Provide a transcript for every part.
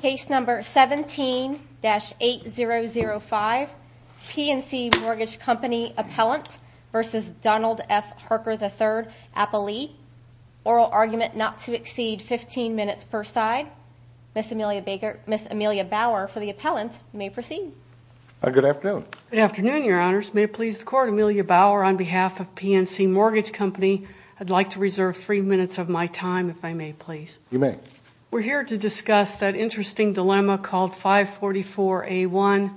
Case number 17-8005, PNC Mortgage Company Appellant versus Donald F. Harker III, Appellee. Oral argument not to exceed 15 minutes per side. Ms. Amelia Bauer for the appellant, you may proceed. Good afternoon. Good afternoon, your honors. May it please the court, Amelia Bauer on behalf of PNC Mortgage Company, I'd like to reserve three minutes of my time, if I may please. You may. We're here to discuss that interesting dilemma called 544A1,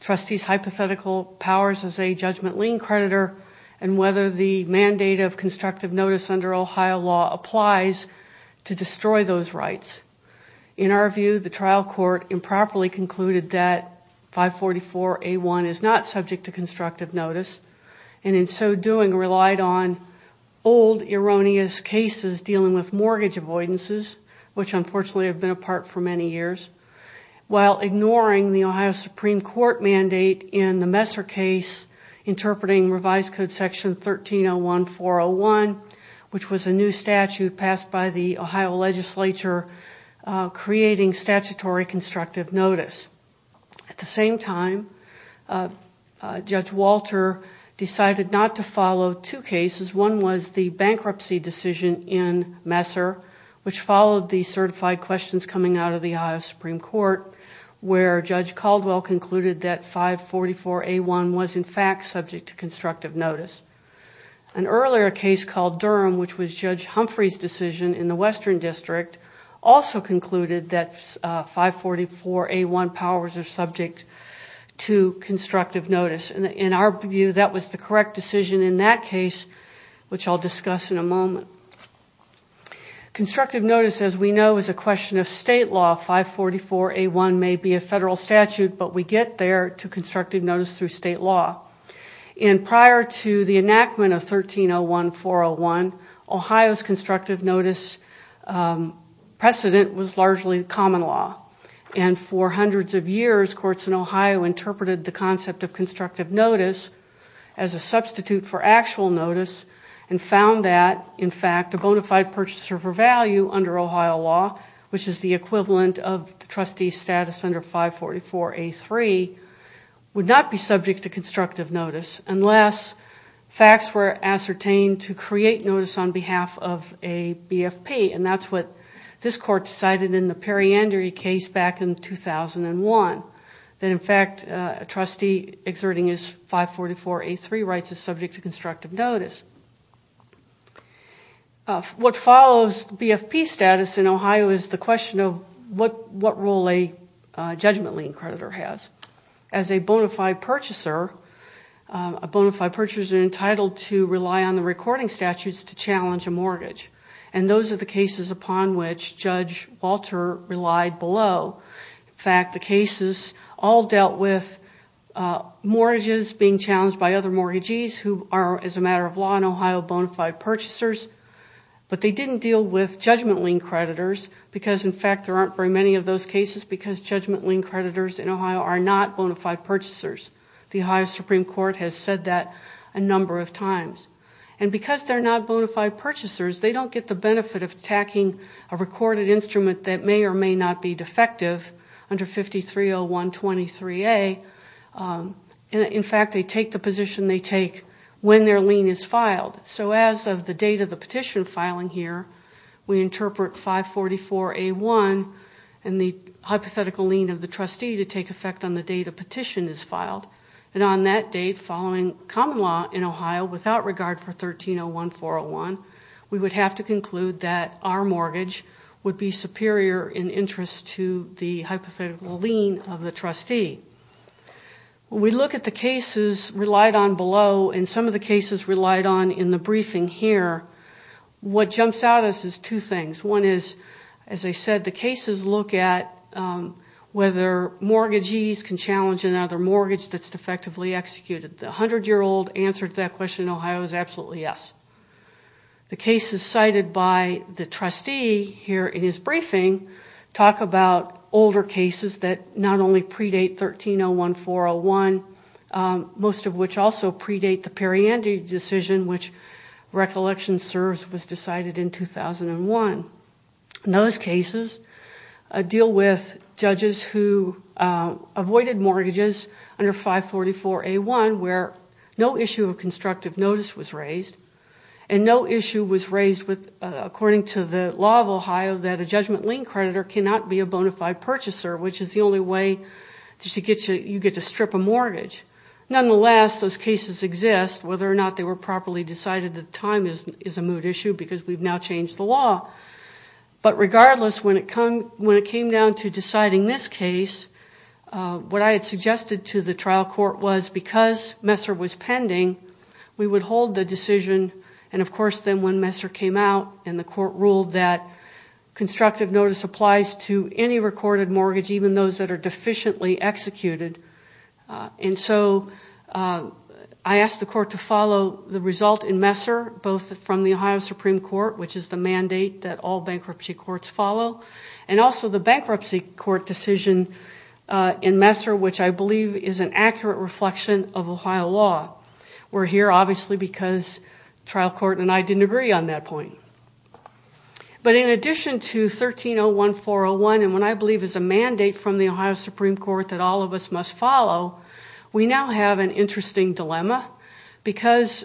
trustee's hypothetical powers as a judgment lien creditor and whether the mandate of constructive notice under Ohio law applies to destroy those rights. In our view, the trial court improperly concluded that 544A1 is not subject to constructive avoidances, which unfortunately have been apart for many years, while ignoring the Ohio Supreme Court mandate in the Messer case, interpreting revised code section 1301-401, which was a new statute passed by the Ohio legislature, creating statutory constructive notice. At the same time, Judge Walter decided not to follow two cases. One was the bankruptcy decision in Messer, which followed the certified questions coming out of the Ohio Supreme Court, where Judge Caldwell concluded that 544A1 was in fact subject to constructive notice. An earlier case called Durham, which was Judge Humphrey's decision in the Western District, also concluded that 544A1 powers are subject to constructive notice. In our view, that was the correct decision in that case, which I'll discuss in a moment. Constructive notice, as we know, is a question of state law. 544A1 may be a federal statute, but we get there to constructive notice through state law. Prior to the enactment of 1301-401, Ohio's constructive notice precedent was largely common law. For hundreds of years, courts in Ohio interpreted the concept of constructive notice as a substitute for actual notice and found that, in fact, a bona fide purchaser for value under Ohio law, which is the equivalent of the trustee status under 544A3, would not be subject to constructive notice unless facts were ascertained to create notice on behalf of a BFP. That's what this court decided in the Periandery case back in 2001, that, in fact, a trustee exerting his 544A3 rights is subject to constructive notice. What follows BFP status in Ohio is the question of what role a judgment lien creditor has. As a bona fide purchaser, a bona fide purchaser is entitled to rely on the recording statutes to challenge a mortgage. Those are the cases upon which Judge Walter relied below. In fact, the cases all dealt with mortgages being challenged by other mortgagees who are, as a matter of law in Ohio, bona fide purchasers, but they didn't deal with judgment lien creditors because, in fact, there aren't very many of those cases because judgment lien creditors in Ohio are not bona fide purchasers. Because they're not bona fide purchasers, they don't get the benefit of attacking a recorded instrument that may or may not be defective under 530123A. In fact, they take the position they take when their lien is filed. As of the date of the petition filing here, we interpret 544A1 and the hypothetical lien of the trustee to take effect on the date a petition is filed. On that date, following common law in Ohio, without regard for 1301401, we would have to conclude that our mortgage would be superior in interest to the hypothetical lien of the trustee. We look at the cases relied on below and some of the cases relied on in the briefing here. What jumps out at us is two things. One is, as I said, the cases look at whether mortgagees can challenge another mortgage that's defectively executed. The 100-year-old answer to that question in Ohio is absolutely yes. The cases cited by the trustee here in his briefing talk about older cases that not only predate 1301401, most of which also predate the Perriandi decision, which recollection serves was decided in 2001. Those cases deal with judges who avoided mortgages under 544A1 where no issue of constructive notice was raised and no issue was raised according to the law of Ohio that a judgment lien creditor cannot be a bona fide purchaser, which is the only way you get to strip a mortgage. Nonetheless, those cases exist. Whether or not they were properly decided at the time is a moot issue because we've now changed the law. But regardless, when it came down to deciding this case, what I had suggested to the trial court was because Messer was pending, we would hold the decision. Of course, then when Messer came out and the court ruled that constructive notice applies to any recorded mortgage, even those that are deficiently executed, I asked the court to follow the result in Messer, both from the Ohio Supreme Court, which is the mandate that all bankruptcy courts follow, and also the bankruptcy court decision in Messer, which I believe is an accurate reflection of Ohio law. We're here obviously because trial court and I didn't agree on that point. But in addition to 1301401, and what I believe is a mandate from the Ohio Supreme Court that all of us must follow, we now have an interesting dilemma because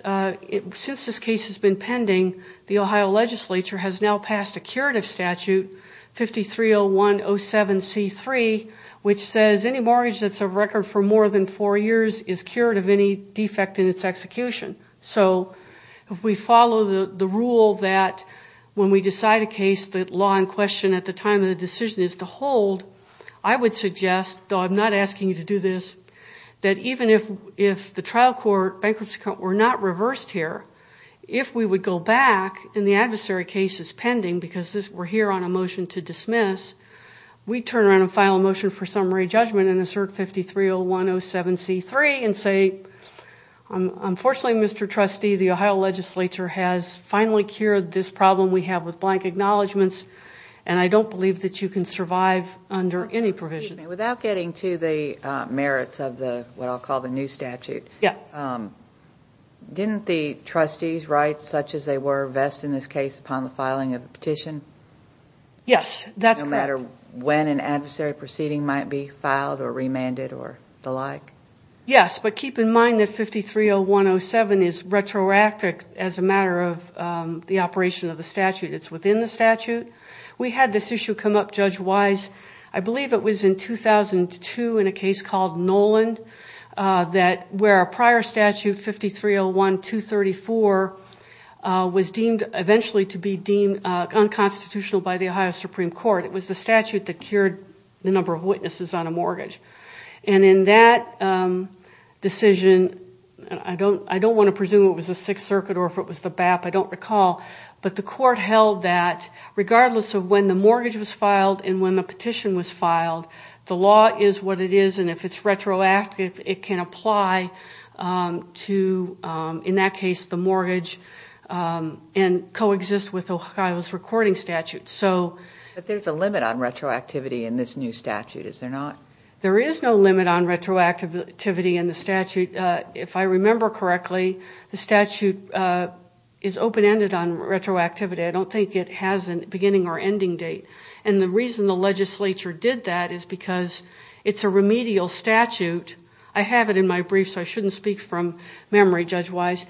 since this case has been pending, the Ohio legislature has now passed a curative statute, 530107C3, which says any mortgage that's a record for more than four years is cured of any defect in its execution. So if we follow the rule that when we decide a case, the law in question at the time of the decision is to hold, I would suggest, though I'm not asking you to do this, that even if the trial court, bankruptcy court, were not reversed here, if we would go back and the adversary case is pending because we're here on a motion to dismiss, we turn around and file a motion for summary judgment and assert 530107C3 and say, unfortunately, Mr. Trustee, the Ohio legislature has finally cured this problem we have with blank acknowledgments and I don't believe that you can survive under any provision. Without getting to the merits of what I'll call the new statute, didn't the trustees' rights, such as they were, vest in this case upon the filing of the petition? Yes, that's correct. No matter when an adversary proceeding might be filed or remanded or the like? Yes, but keep in mind that 530107 is retroactive as a matter of the operation of the statute. It's within the statute. We had this issue come up, judge-wise, I believe it was in 2002 in a case called Noland where a prior statute, 5301234, was deemed, eventually to be deemed unconstitutional by the Ohio Supreme Court. It was the statute that cured the number of witnesses on a mortgage. In that decision, I don't want to presume it was the Sixth Circuit or if it was the regardless of when the mortgage was filed and when the petition was filed, the law is what it is and if it's retroactive, it can apply to, in that case, the mortgage and coexist with Ohio's recording statute. But there's a limit on retroactivity in this new statute, is there not? There is no limit on retroactivity in the statute. If I remember correctly, the statute is open-ended on retroactivity. I don't think it has a beginning or ending date. The reason the legislature did that is because it's a remedial statute. I have it in my brief so I shouldn't speak from memory, judge-wise.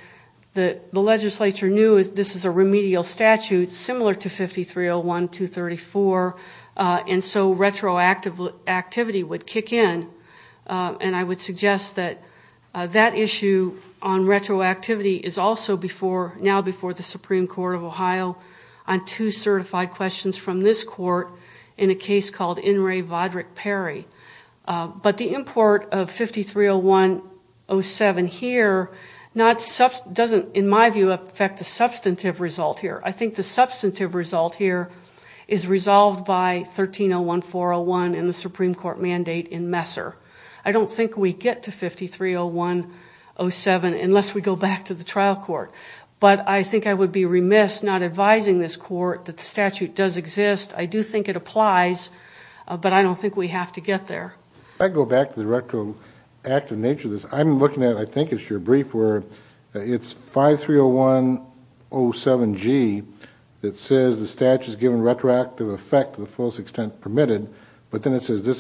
The legislature knew this is a remedial statute similar to 5301234 and so retroactivity would kick in. I would suggest that that issue on retroactivity is also now before the Supreme Court of Ohio on two certified questions from this court in a case called In re Vodrick Perry. But the import of 530107 here doesn't, in my view, affect the substantive result here. I think the substantive result here is resolved by 1301401 in the Supreme Court mandate in December. I don't think we get to 530107 unless we go back to the trial court. But I think I would be remiss not advising this court that the statute does exist. I do think it applies, but I don't think we have to get there. If I could go back to the retroactive nature of this, I'm looking at, I think it's your brief where it's 530107G that says the statute is given retroactive effect to the fullest extent permitted. But then it says this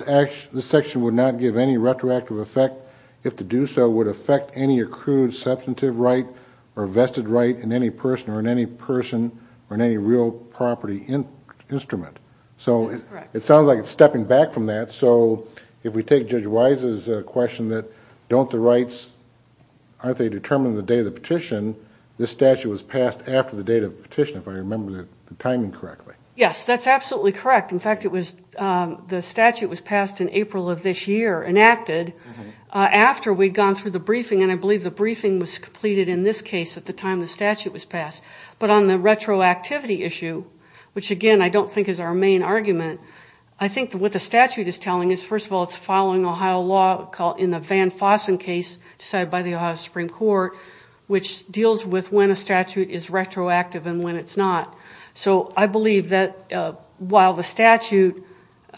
section would not give any retroactive effect if to do so would affect any accrued substantive right or vested right in any person or in any person or in any real property instrument. So it sounds like it's stepping back from that. So if we take Judge Wise's question that don't the rights, aren't they determined the day of the petition, this statute was passed after the date of the petition, if I remember the timing correctly. Yes. That's absolutely correct. In fact, the statute was passed in April of this year, enacted, after we'd gone through the briefing. And I believe the briefing was completed in this case at the time the statute was passed. But on the retroactivity issue, which again, I don't think is our main argument, I think what the statute is telling us, first of all, it's following Ohio law in the Van Fossen case decided by the Ohio Supreme Court, which deals with when a statute is retroactive and when it's not. So I believe that while the statute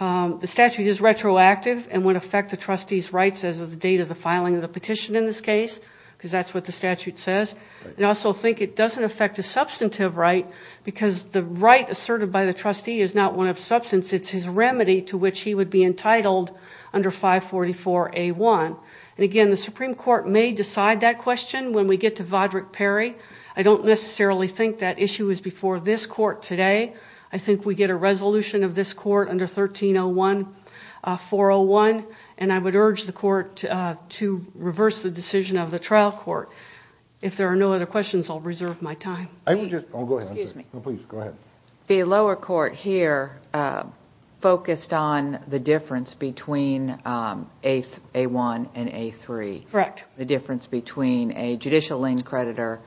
is retroactive and would affect the trustee's rights as of the date of the filing of the petition in this case, because that's what the statute says. And I also think it doesn't affect a substantive right because the right asserted by the trustee is not one of substance, it's his remedy to which he would be entitled under 544A1. And again, the Supreme Court may decide that question when we get to Vodrick-Perry. I don't necessarily think that issue is before this court today. I think we get a resolution of this court under 1301-401. And I would urge the court to reverse the decision of the trial court. If there are no other questions, I'll reserve my time. The lower court here focused on the difference between A1 and A3. The difference between a judicial lien creditor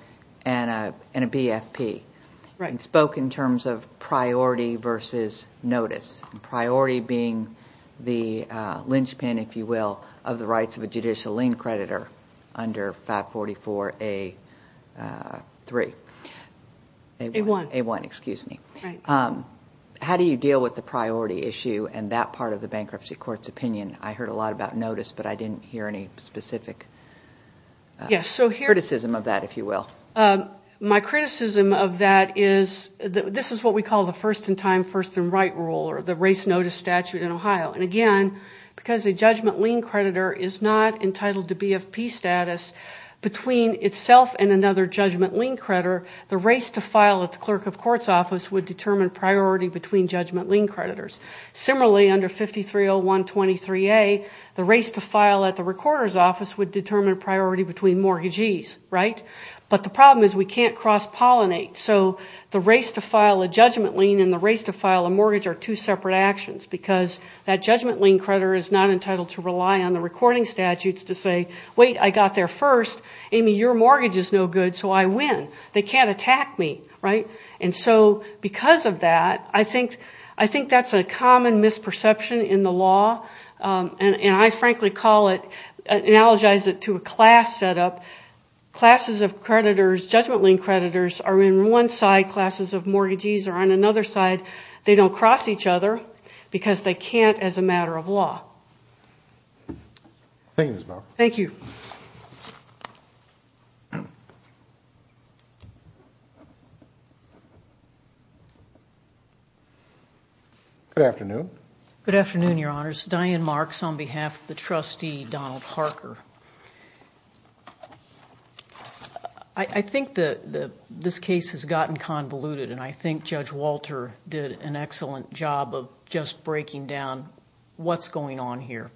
and a BFP. And spoke in terms of priority versus notice. Priority being the linchpin, if you will, of the rights of a judicial lien creditor under 544A1. How do you deal with the priority issue and that part of the bankruptcy court's opinion? I heard a lot about notice, but I didn't hear any specific criticism of that, if you will. My criticism of that is, this is what we call the first-in-time, first-in-right rule, or the race notice statute in Ohio. And again, because a judgment lien creditor is not entitled to BFP status between itself and another judgment lien creditor, the race to file at the clerk of court's office would determine priority between judgment lien creditors. Similarly, under 530123A, the race to file at the recorder's office would determine priority between mortgagees, right? But the problem is, we can't cross-pollinate. So the race to file a judgment lien and the race to file a mortgage are two separate actions. Because that judgment lien creditor is not entitled to rely on the recording statutes to say, wait, I got there first. Amy, your mortgage is no good, so I win. They can't attack me, right? And so, because of that, I think that's a common misperception in the law, and I frankly call it, analogize it to a class setup. Classes of creditors, judgment lien creditors, are in one side, classes of mortgagees are on another side. They don't cross each other, because they can't as a matter of law. Thank you, Ms. Bower. Thank you. Good afternoon. Good afternoon, your honors. Diane Marks, on behalf of the trustee, Donald Parker. I think that this case has gotten convoluted, and I think Judge Walter did an excellent job of just breaking down what's going on here.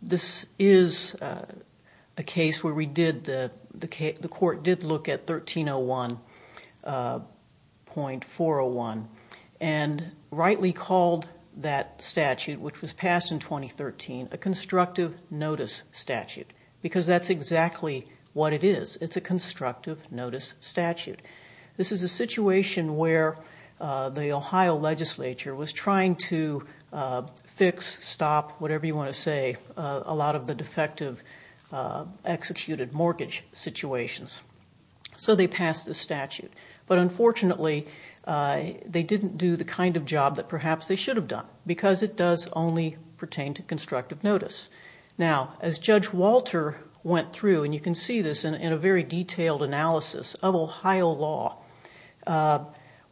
This is a case where the court did look at 1301.401, and rightly called that statute, which was passed in 2013, a constructive notice statute, because that's exactly what it is. It's a constructive notice statute. This is a situation where the Ohio legislature was trying to fix, stop, whatever you want to say, a lot of the defective, executed mortgage situations. They passed the statute, but unfortunately, they didn't do the kind of job that perhaps they should have done, because it does only pertain to constructive notice. As Judge Walter went through, and you can see this in a very detailed analysis of Ohio law,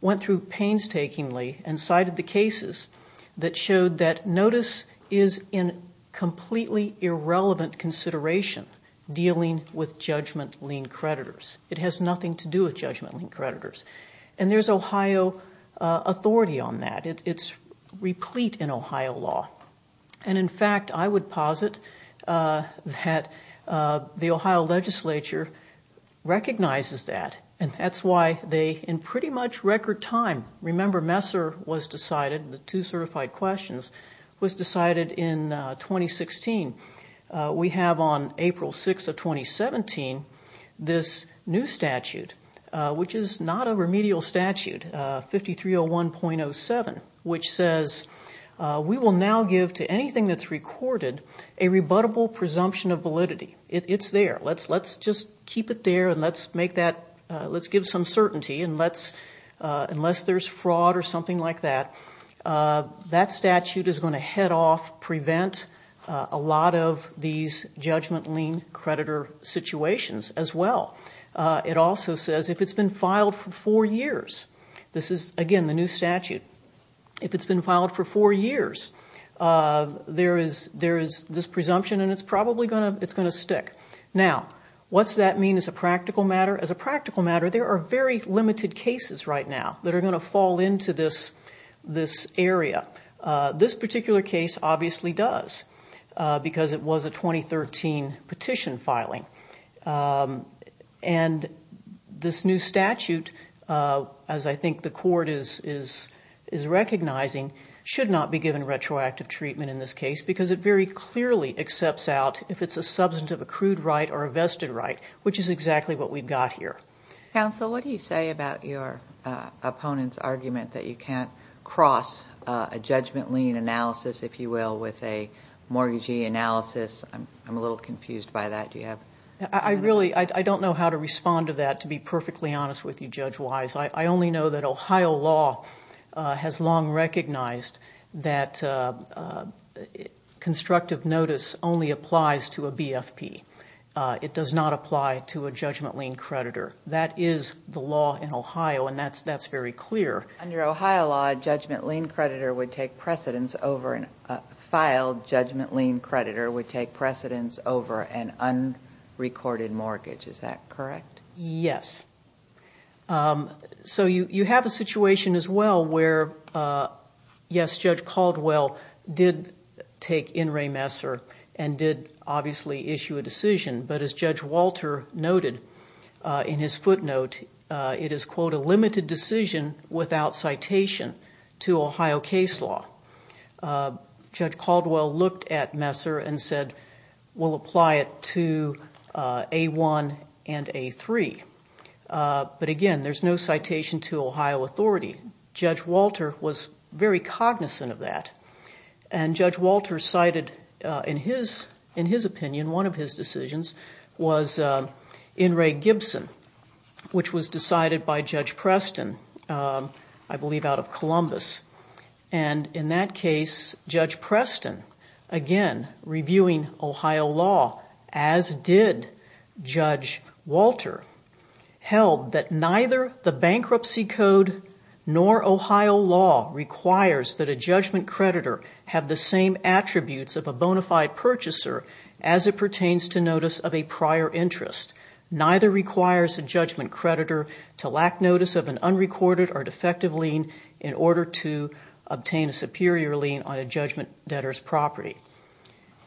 went through painstakingly and cited the cases that showed that notice is in completely irrelevant consideration dealing with judgment lien creditors. It has nothing to do with judgment lien creditors. There's Ohio authority on that. It's replete in Ohio law. In fact, I would posit that the Ohio legislature recognizes that, and that's why they, in pretty much record time, remember Messer was decided, the two certified questions, was decided in 2016. We have on April 6th of 2017 this new statute, which is not a remedial statute, 5301.07, which says we will now give to anything that's recorded a rebuttable presumption of validity. It's there. Let's just keep it there, and let's give some certainty, unless there's fraud or something like that. That statute is going to head off, prevent a lot of these judgment lien creditor situations as well. It also says if it's been filed for four years, this is, again, the new statute. If it's been filed for four years, there is this presumption, and it's probably going to stick. Now, what's that mean as a practical matter? As a practical matter, there are very limited cases right now that are going to fall into this area. This particular case obviously does, because it was a 2013 petition filing. This new statute, as I think the court is recognizing, should not be given retroactive treatment in this case, because it very clearly accepts out if it's a substantive accrued right or a vested right, which is exactly what we've got here. Counsel, what do you say about your opponent's argument that you can't cross a judgment lien analysis, if you will, with a mortgagee analysis? I'm a little confused by that. Do you have anything to add? I don't know how to respond to that, to be perfectly honest with you, Judge Wise. I only know that Ohio law has long recognized that constructive notice only applies to a BFP. It does not apply to a judgment lien creditor. That is the law in Ohio, and that's very clear. Under Ohio law, a filed judgment lien creditor would take precedence over an unrecorded mortgage. Is that correct? Yes. You have a situation as well where, yes, Judge Caldwell did take in remesser and did obviously issue a decision, but as Judge Walter noted in his footnote, it is, quote, a limited decision without citation to Ohio case law. Judge Caldwell looked at messer and said, we'll apply it to A1 and A3. Again, there's no citation to Ohio authority. Judge Walter was very cognizant of that. Judge Walter cited, in his opinion, one of his decisions was In re Gibson, which was decided by Judge Preston, I believe out of Columbus. In that case, Judge Preston, again, reviewing Ohio law, as did Judge Walter, held that neither the bankruptcy code nor Ohio law requires that a judgment creditor have the same attributes of a bona fide purchaser as it pertains to notice of a prior interest. Neither requires a judgment creditor to lack notice of an unrecorded or defective lien in order to obtain a superior lien on a judgment debtor's property.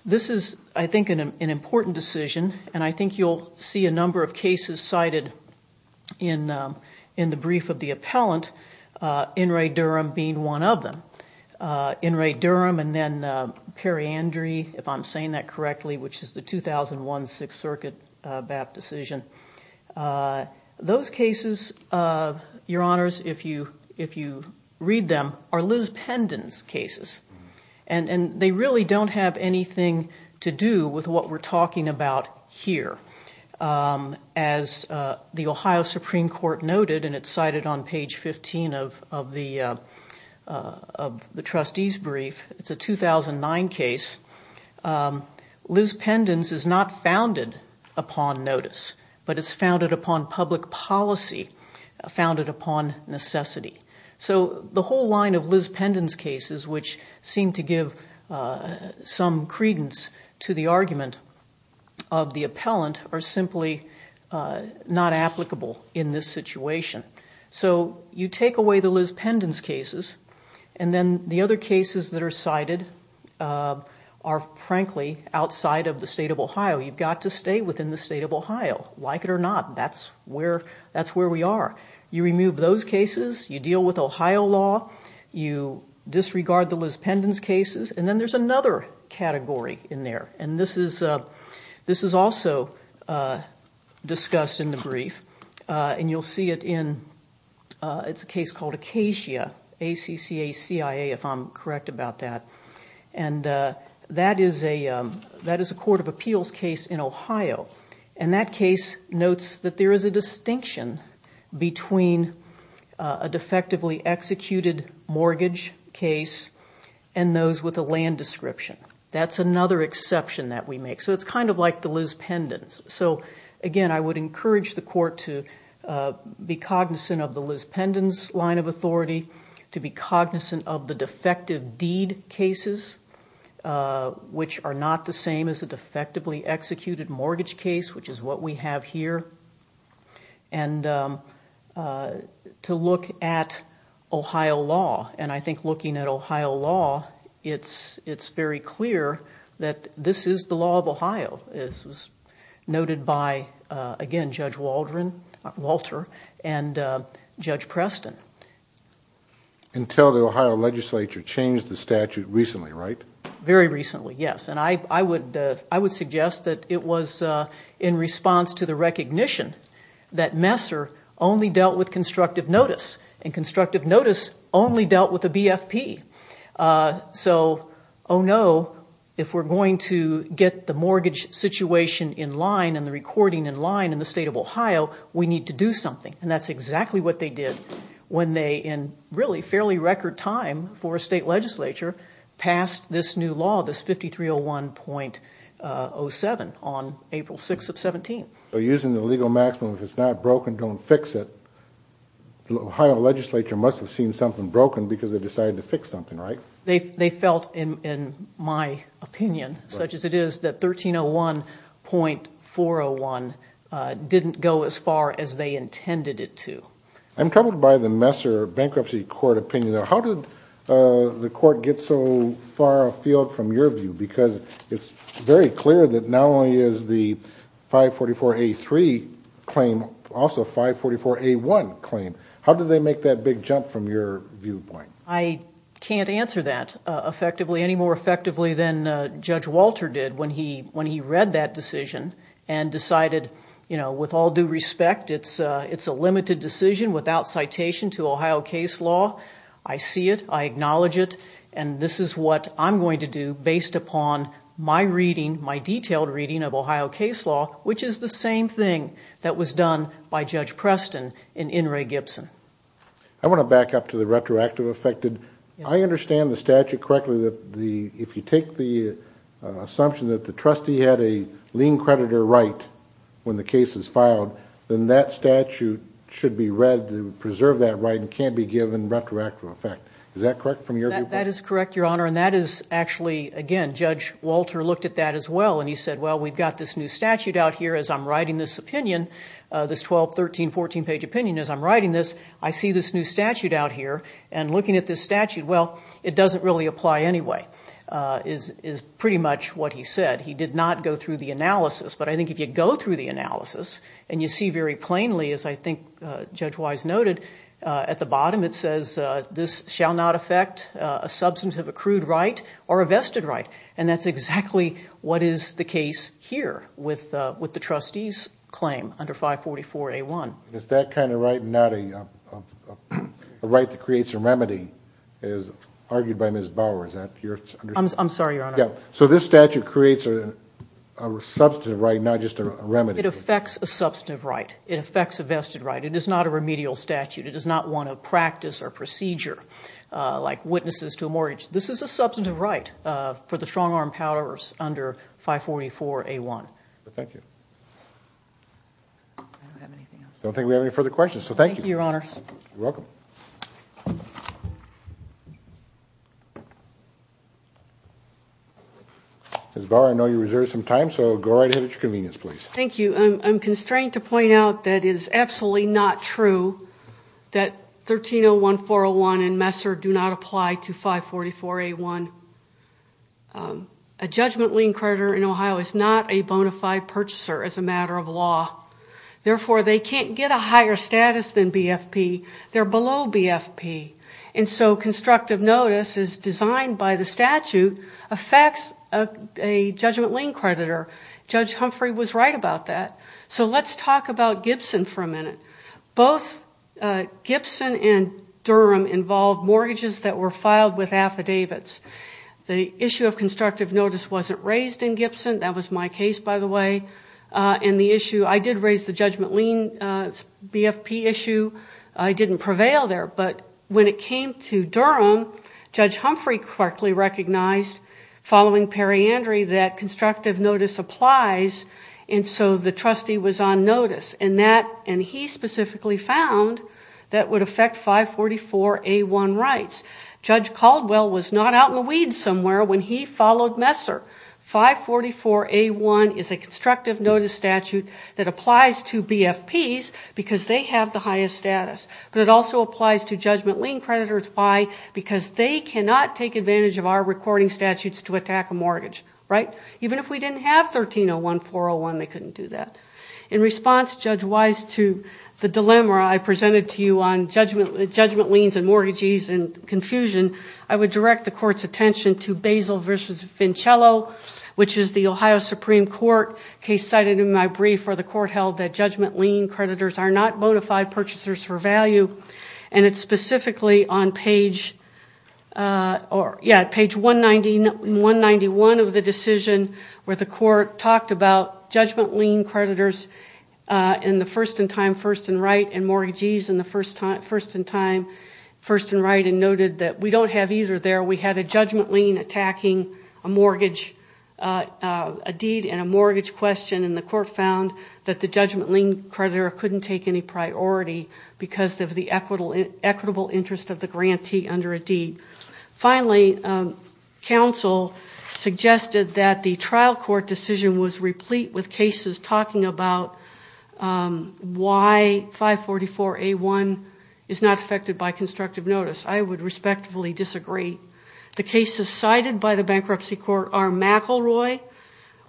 This is, I think, an important decision, and I think you'll see a number of cases cited in the brief of the appellant, In re Durham being one of them. In re Durham and then Periandry, if I'm saying that correctly, which is the 2001 Sixth Circuit BAP decision. Those cases, your honors, if you read them, are Liz Pendon's cases. And they really don't have anything to do with what we're talking about here. As the Ohio Supreme Court noted, and it's cited on page 15 of the trustee's brief, it's a 2009 case. Liz Pendon's is not founded upon notice, but it's founded upon public policy, founded upon necessity. The whole line of Liz Pendon's cases, which seem to give some credence to the argument of the appellant, are simply not applicable in this situation. You take away the Liz Pendon's cases, and then the other cases that are cited are frankly outside of the state of Ohio. You've got to stay within the state of Ohio, like it or not. That's where we are. You remove those cases, you deal with Ohio law, you disregard the Liz Pendon's cases, and then there's another category in there. And this is also discussed in the brief, and you'll see it in, it's a case called Acacia, A-C-C-A-C-I-A, if I'm correct about that. And that is a court of appeals case in Ohio. And that case notes that there is a distinction between a defectively executed mortgage case and those with a land description. That's another exception that we make. So it's kind of like the Liz Pendon's. So again, I would encourage the court to be cognizant of the Liz Pendon's line of authority, to be cognizant of the defective deed cases, which are not the same as a defectively executed mortgage case, which is what we have here, and to look at Ohio law. And I think looking at Ohio law, it's very clear that this is the law of Ohio, as noted by, again, Judge Walter and Judge Preston. Until the Ohio legislature changed the statute recently, right? Very recently, yes. And I would suggest that it was in response to the recognition that Messer only dealt with constructive notice, and constructive notice only dealt with a BFP. So oh no, if we're going to get the mortgage situation in line and the recording in line in the state of Ohio, we need to do something. And that's exactly what they did when they, in really fairly record time for a state legislature, passed this new law, this 5301.07 on April 6th of 17th. So using the legal maximum, if it's not broken, don't fix it, the Ohio legislature must have seen something broken because they decided to fix something, right? They felt, in my opinion, such as it is, that 1301.401 didn't go as far as they intended it to. I'm troubled by the Messer Bankruptcy Court opinion. How did the court get so far afield from your view? Because it's very clear that not only is the 544A3 claim also 544A1 claim. How did they make that big jump from your viewpoint? I can't answer that effectively, any more effectively than Judge Walter did when he read that decision and decided, you know, with all due respect, it's a limited decision without citation to Ohio case law. I see it. I acknowledge it. And this is what I'm going to do based upon my reading, my detailed reading of Ohio case law, which is the same thing that was done by Judge Preston and In re. Gibson. I want to back up to the retroactive affected. I understand the statute correctly that the, if you take the assumption that the trustee had a lien creditor right when the case is filed, then that statute should be read to preserve that right and can't be given retroactive effect. Is that correct from your viewpoint? That is correct, Your Honor. And that is actually, again, Judge Walter looked at that as well and he said, well, we've got this new statute out here as I'm writing this opinion, this 12-, 13-, 14-page opinion as I'm writing this, I see this new statute out here and looking at this statute, well, it doesn't really apply anyway, is pretty much what he said. He did not go through the analysis, but I think if you go through the analysis and you see very plainly, as I think Judge Wise noted at the bottom, it says this shall not affect a substantive accrued right or a vested right. And that's exactly what is the case here with the trustee's claim under 544-A1. Is that kind of right not a right that creates a remedy as argued by Ms. Bower, is that your understanding? I'm sorry, Your Honor. So this statute creates a substantive right, not just a remedy. It affects a substantive right. It affects a vested right. It is not a remedial statute. It does not want to practice or procedure like witnesses to a mortgage. This is a substantive right for the strong arm powers under 544-A1. Thank you. I don't have anything else. I don't think we have any further questions, so thank you. Thank you, Your Honor. You're welcome. Ms. Bower, I know you reserved some time, so go right ahead at your convenience, please. Thank you. I'm constrained to point out that it is absolutely not true that 1301-401 and Messer do not apply to 544-A1. A judgment lien creditor in Ohio is not a bona fide purchaser as a matter of law. Therefore, they can't get a higher status than BFP. They're below BFP. Constructive notice, as designed by the statute, affects a judgment lien creditor. Judge Humphrey was right about that. Let's talk about Gibson for a minute. Both Gibson and Durham involved mortgages that were filed with affidavits. The issue of constructive notice wasn't raised in Gibson. That was my case, by the way. I did raise the judgment lien BFP issue. I didn't prevail there. When it came to Durham, Judge Humphrey correctly recognized, following periandry, that constructive notice applies, and so the trustee was on notice. He specifically found that would affect 544-A1 rights. Judge Caldwell was not out in the weeds somewhere when he followed Messer. 544-A1 is a constructive notice statute that applies to BFPs because they have the highest status. It also applies to judgment lien creditors because they cannot take advantage of our recording statutes to attack a mortgage. Even if we didn't have 1301-401, they couldn't do that. In response, Judge Wise, to the dilemma I presented to you on judgment liens and mortgages and confusion, I would direct the court's attention to Basil v. Vincello, which is the Ohio Supreme Court case cited in my brief where the court held that judgment lien creditors are not modified purchasers for value. It's specifically on page 191 of the decision where the court talked about judgment lien We don't have either there. We have a judgment lien attacking a deed and a mortgage question, and the court found that the judgment lien creditor couldn't take any priority because of the equitable interest of the grantee under a deed. Finally, counsel suggested that the trial court decision was replete with cases talking about why 544-A1 is not affected by constructive notice. I would respectfully disagree. The cases cited by the bankruptcy court are McElroy,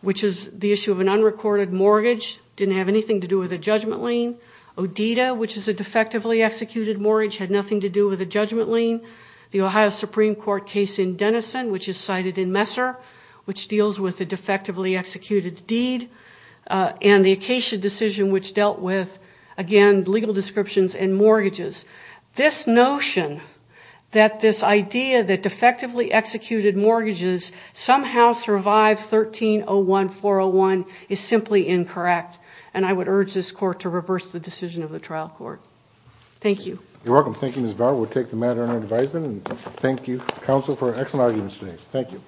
which is the issue of an unrecorded mortgage that didn't have anything to do with a judgment lien, Odita, which is a defectively executed mortgage that had nothing to do with a judgment lien, the Ohio Supreme Court case in Denison, which is cited in Messer, which deals with a defectively executed deed, and the Acacia decision, which dealt with, again, legal descriptions and mortgages. This notion that this idea that defectively executed mortgages somehow survived 1301-401 is simply incorrect, and I would urge this court to reverse the decision of the trial court. Thank you. You're welcome. Thank you, Ms. Bauer. We'll take the matter under advisement, and thank you, counsel, for an excellent argument today.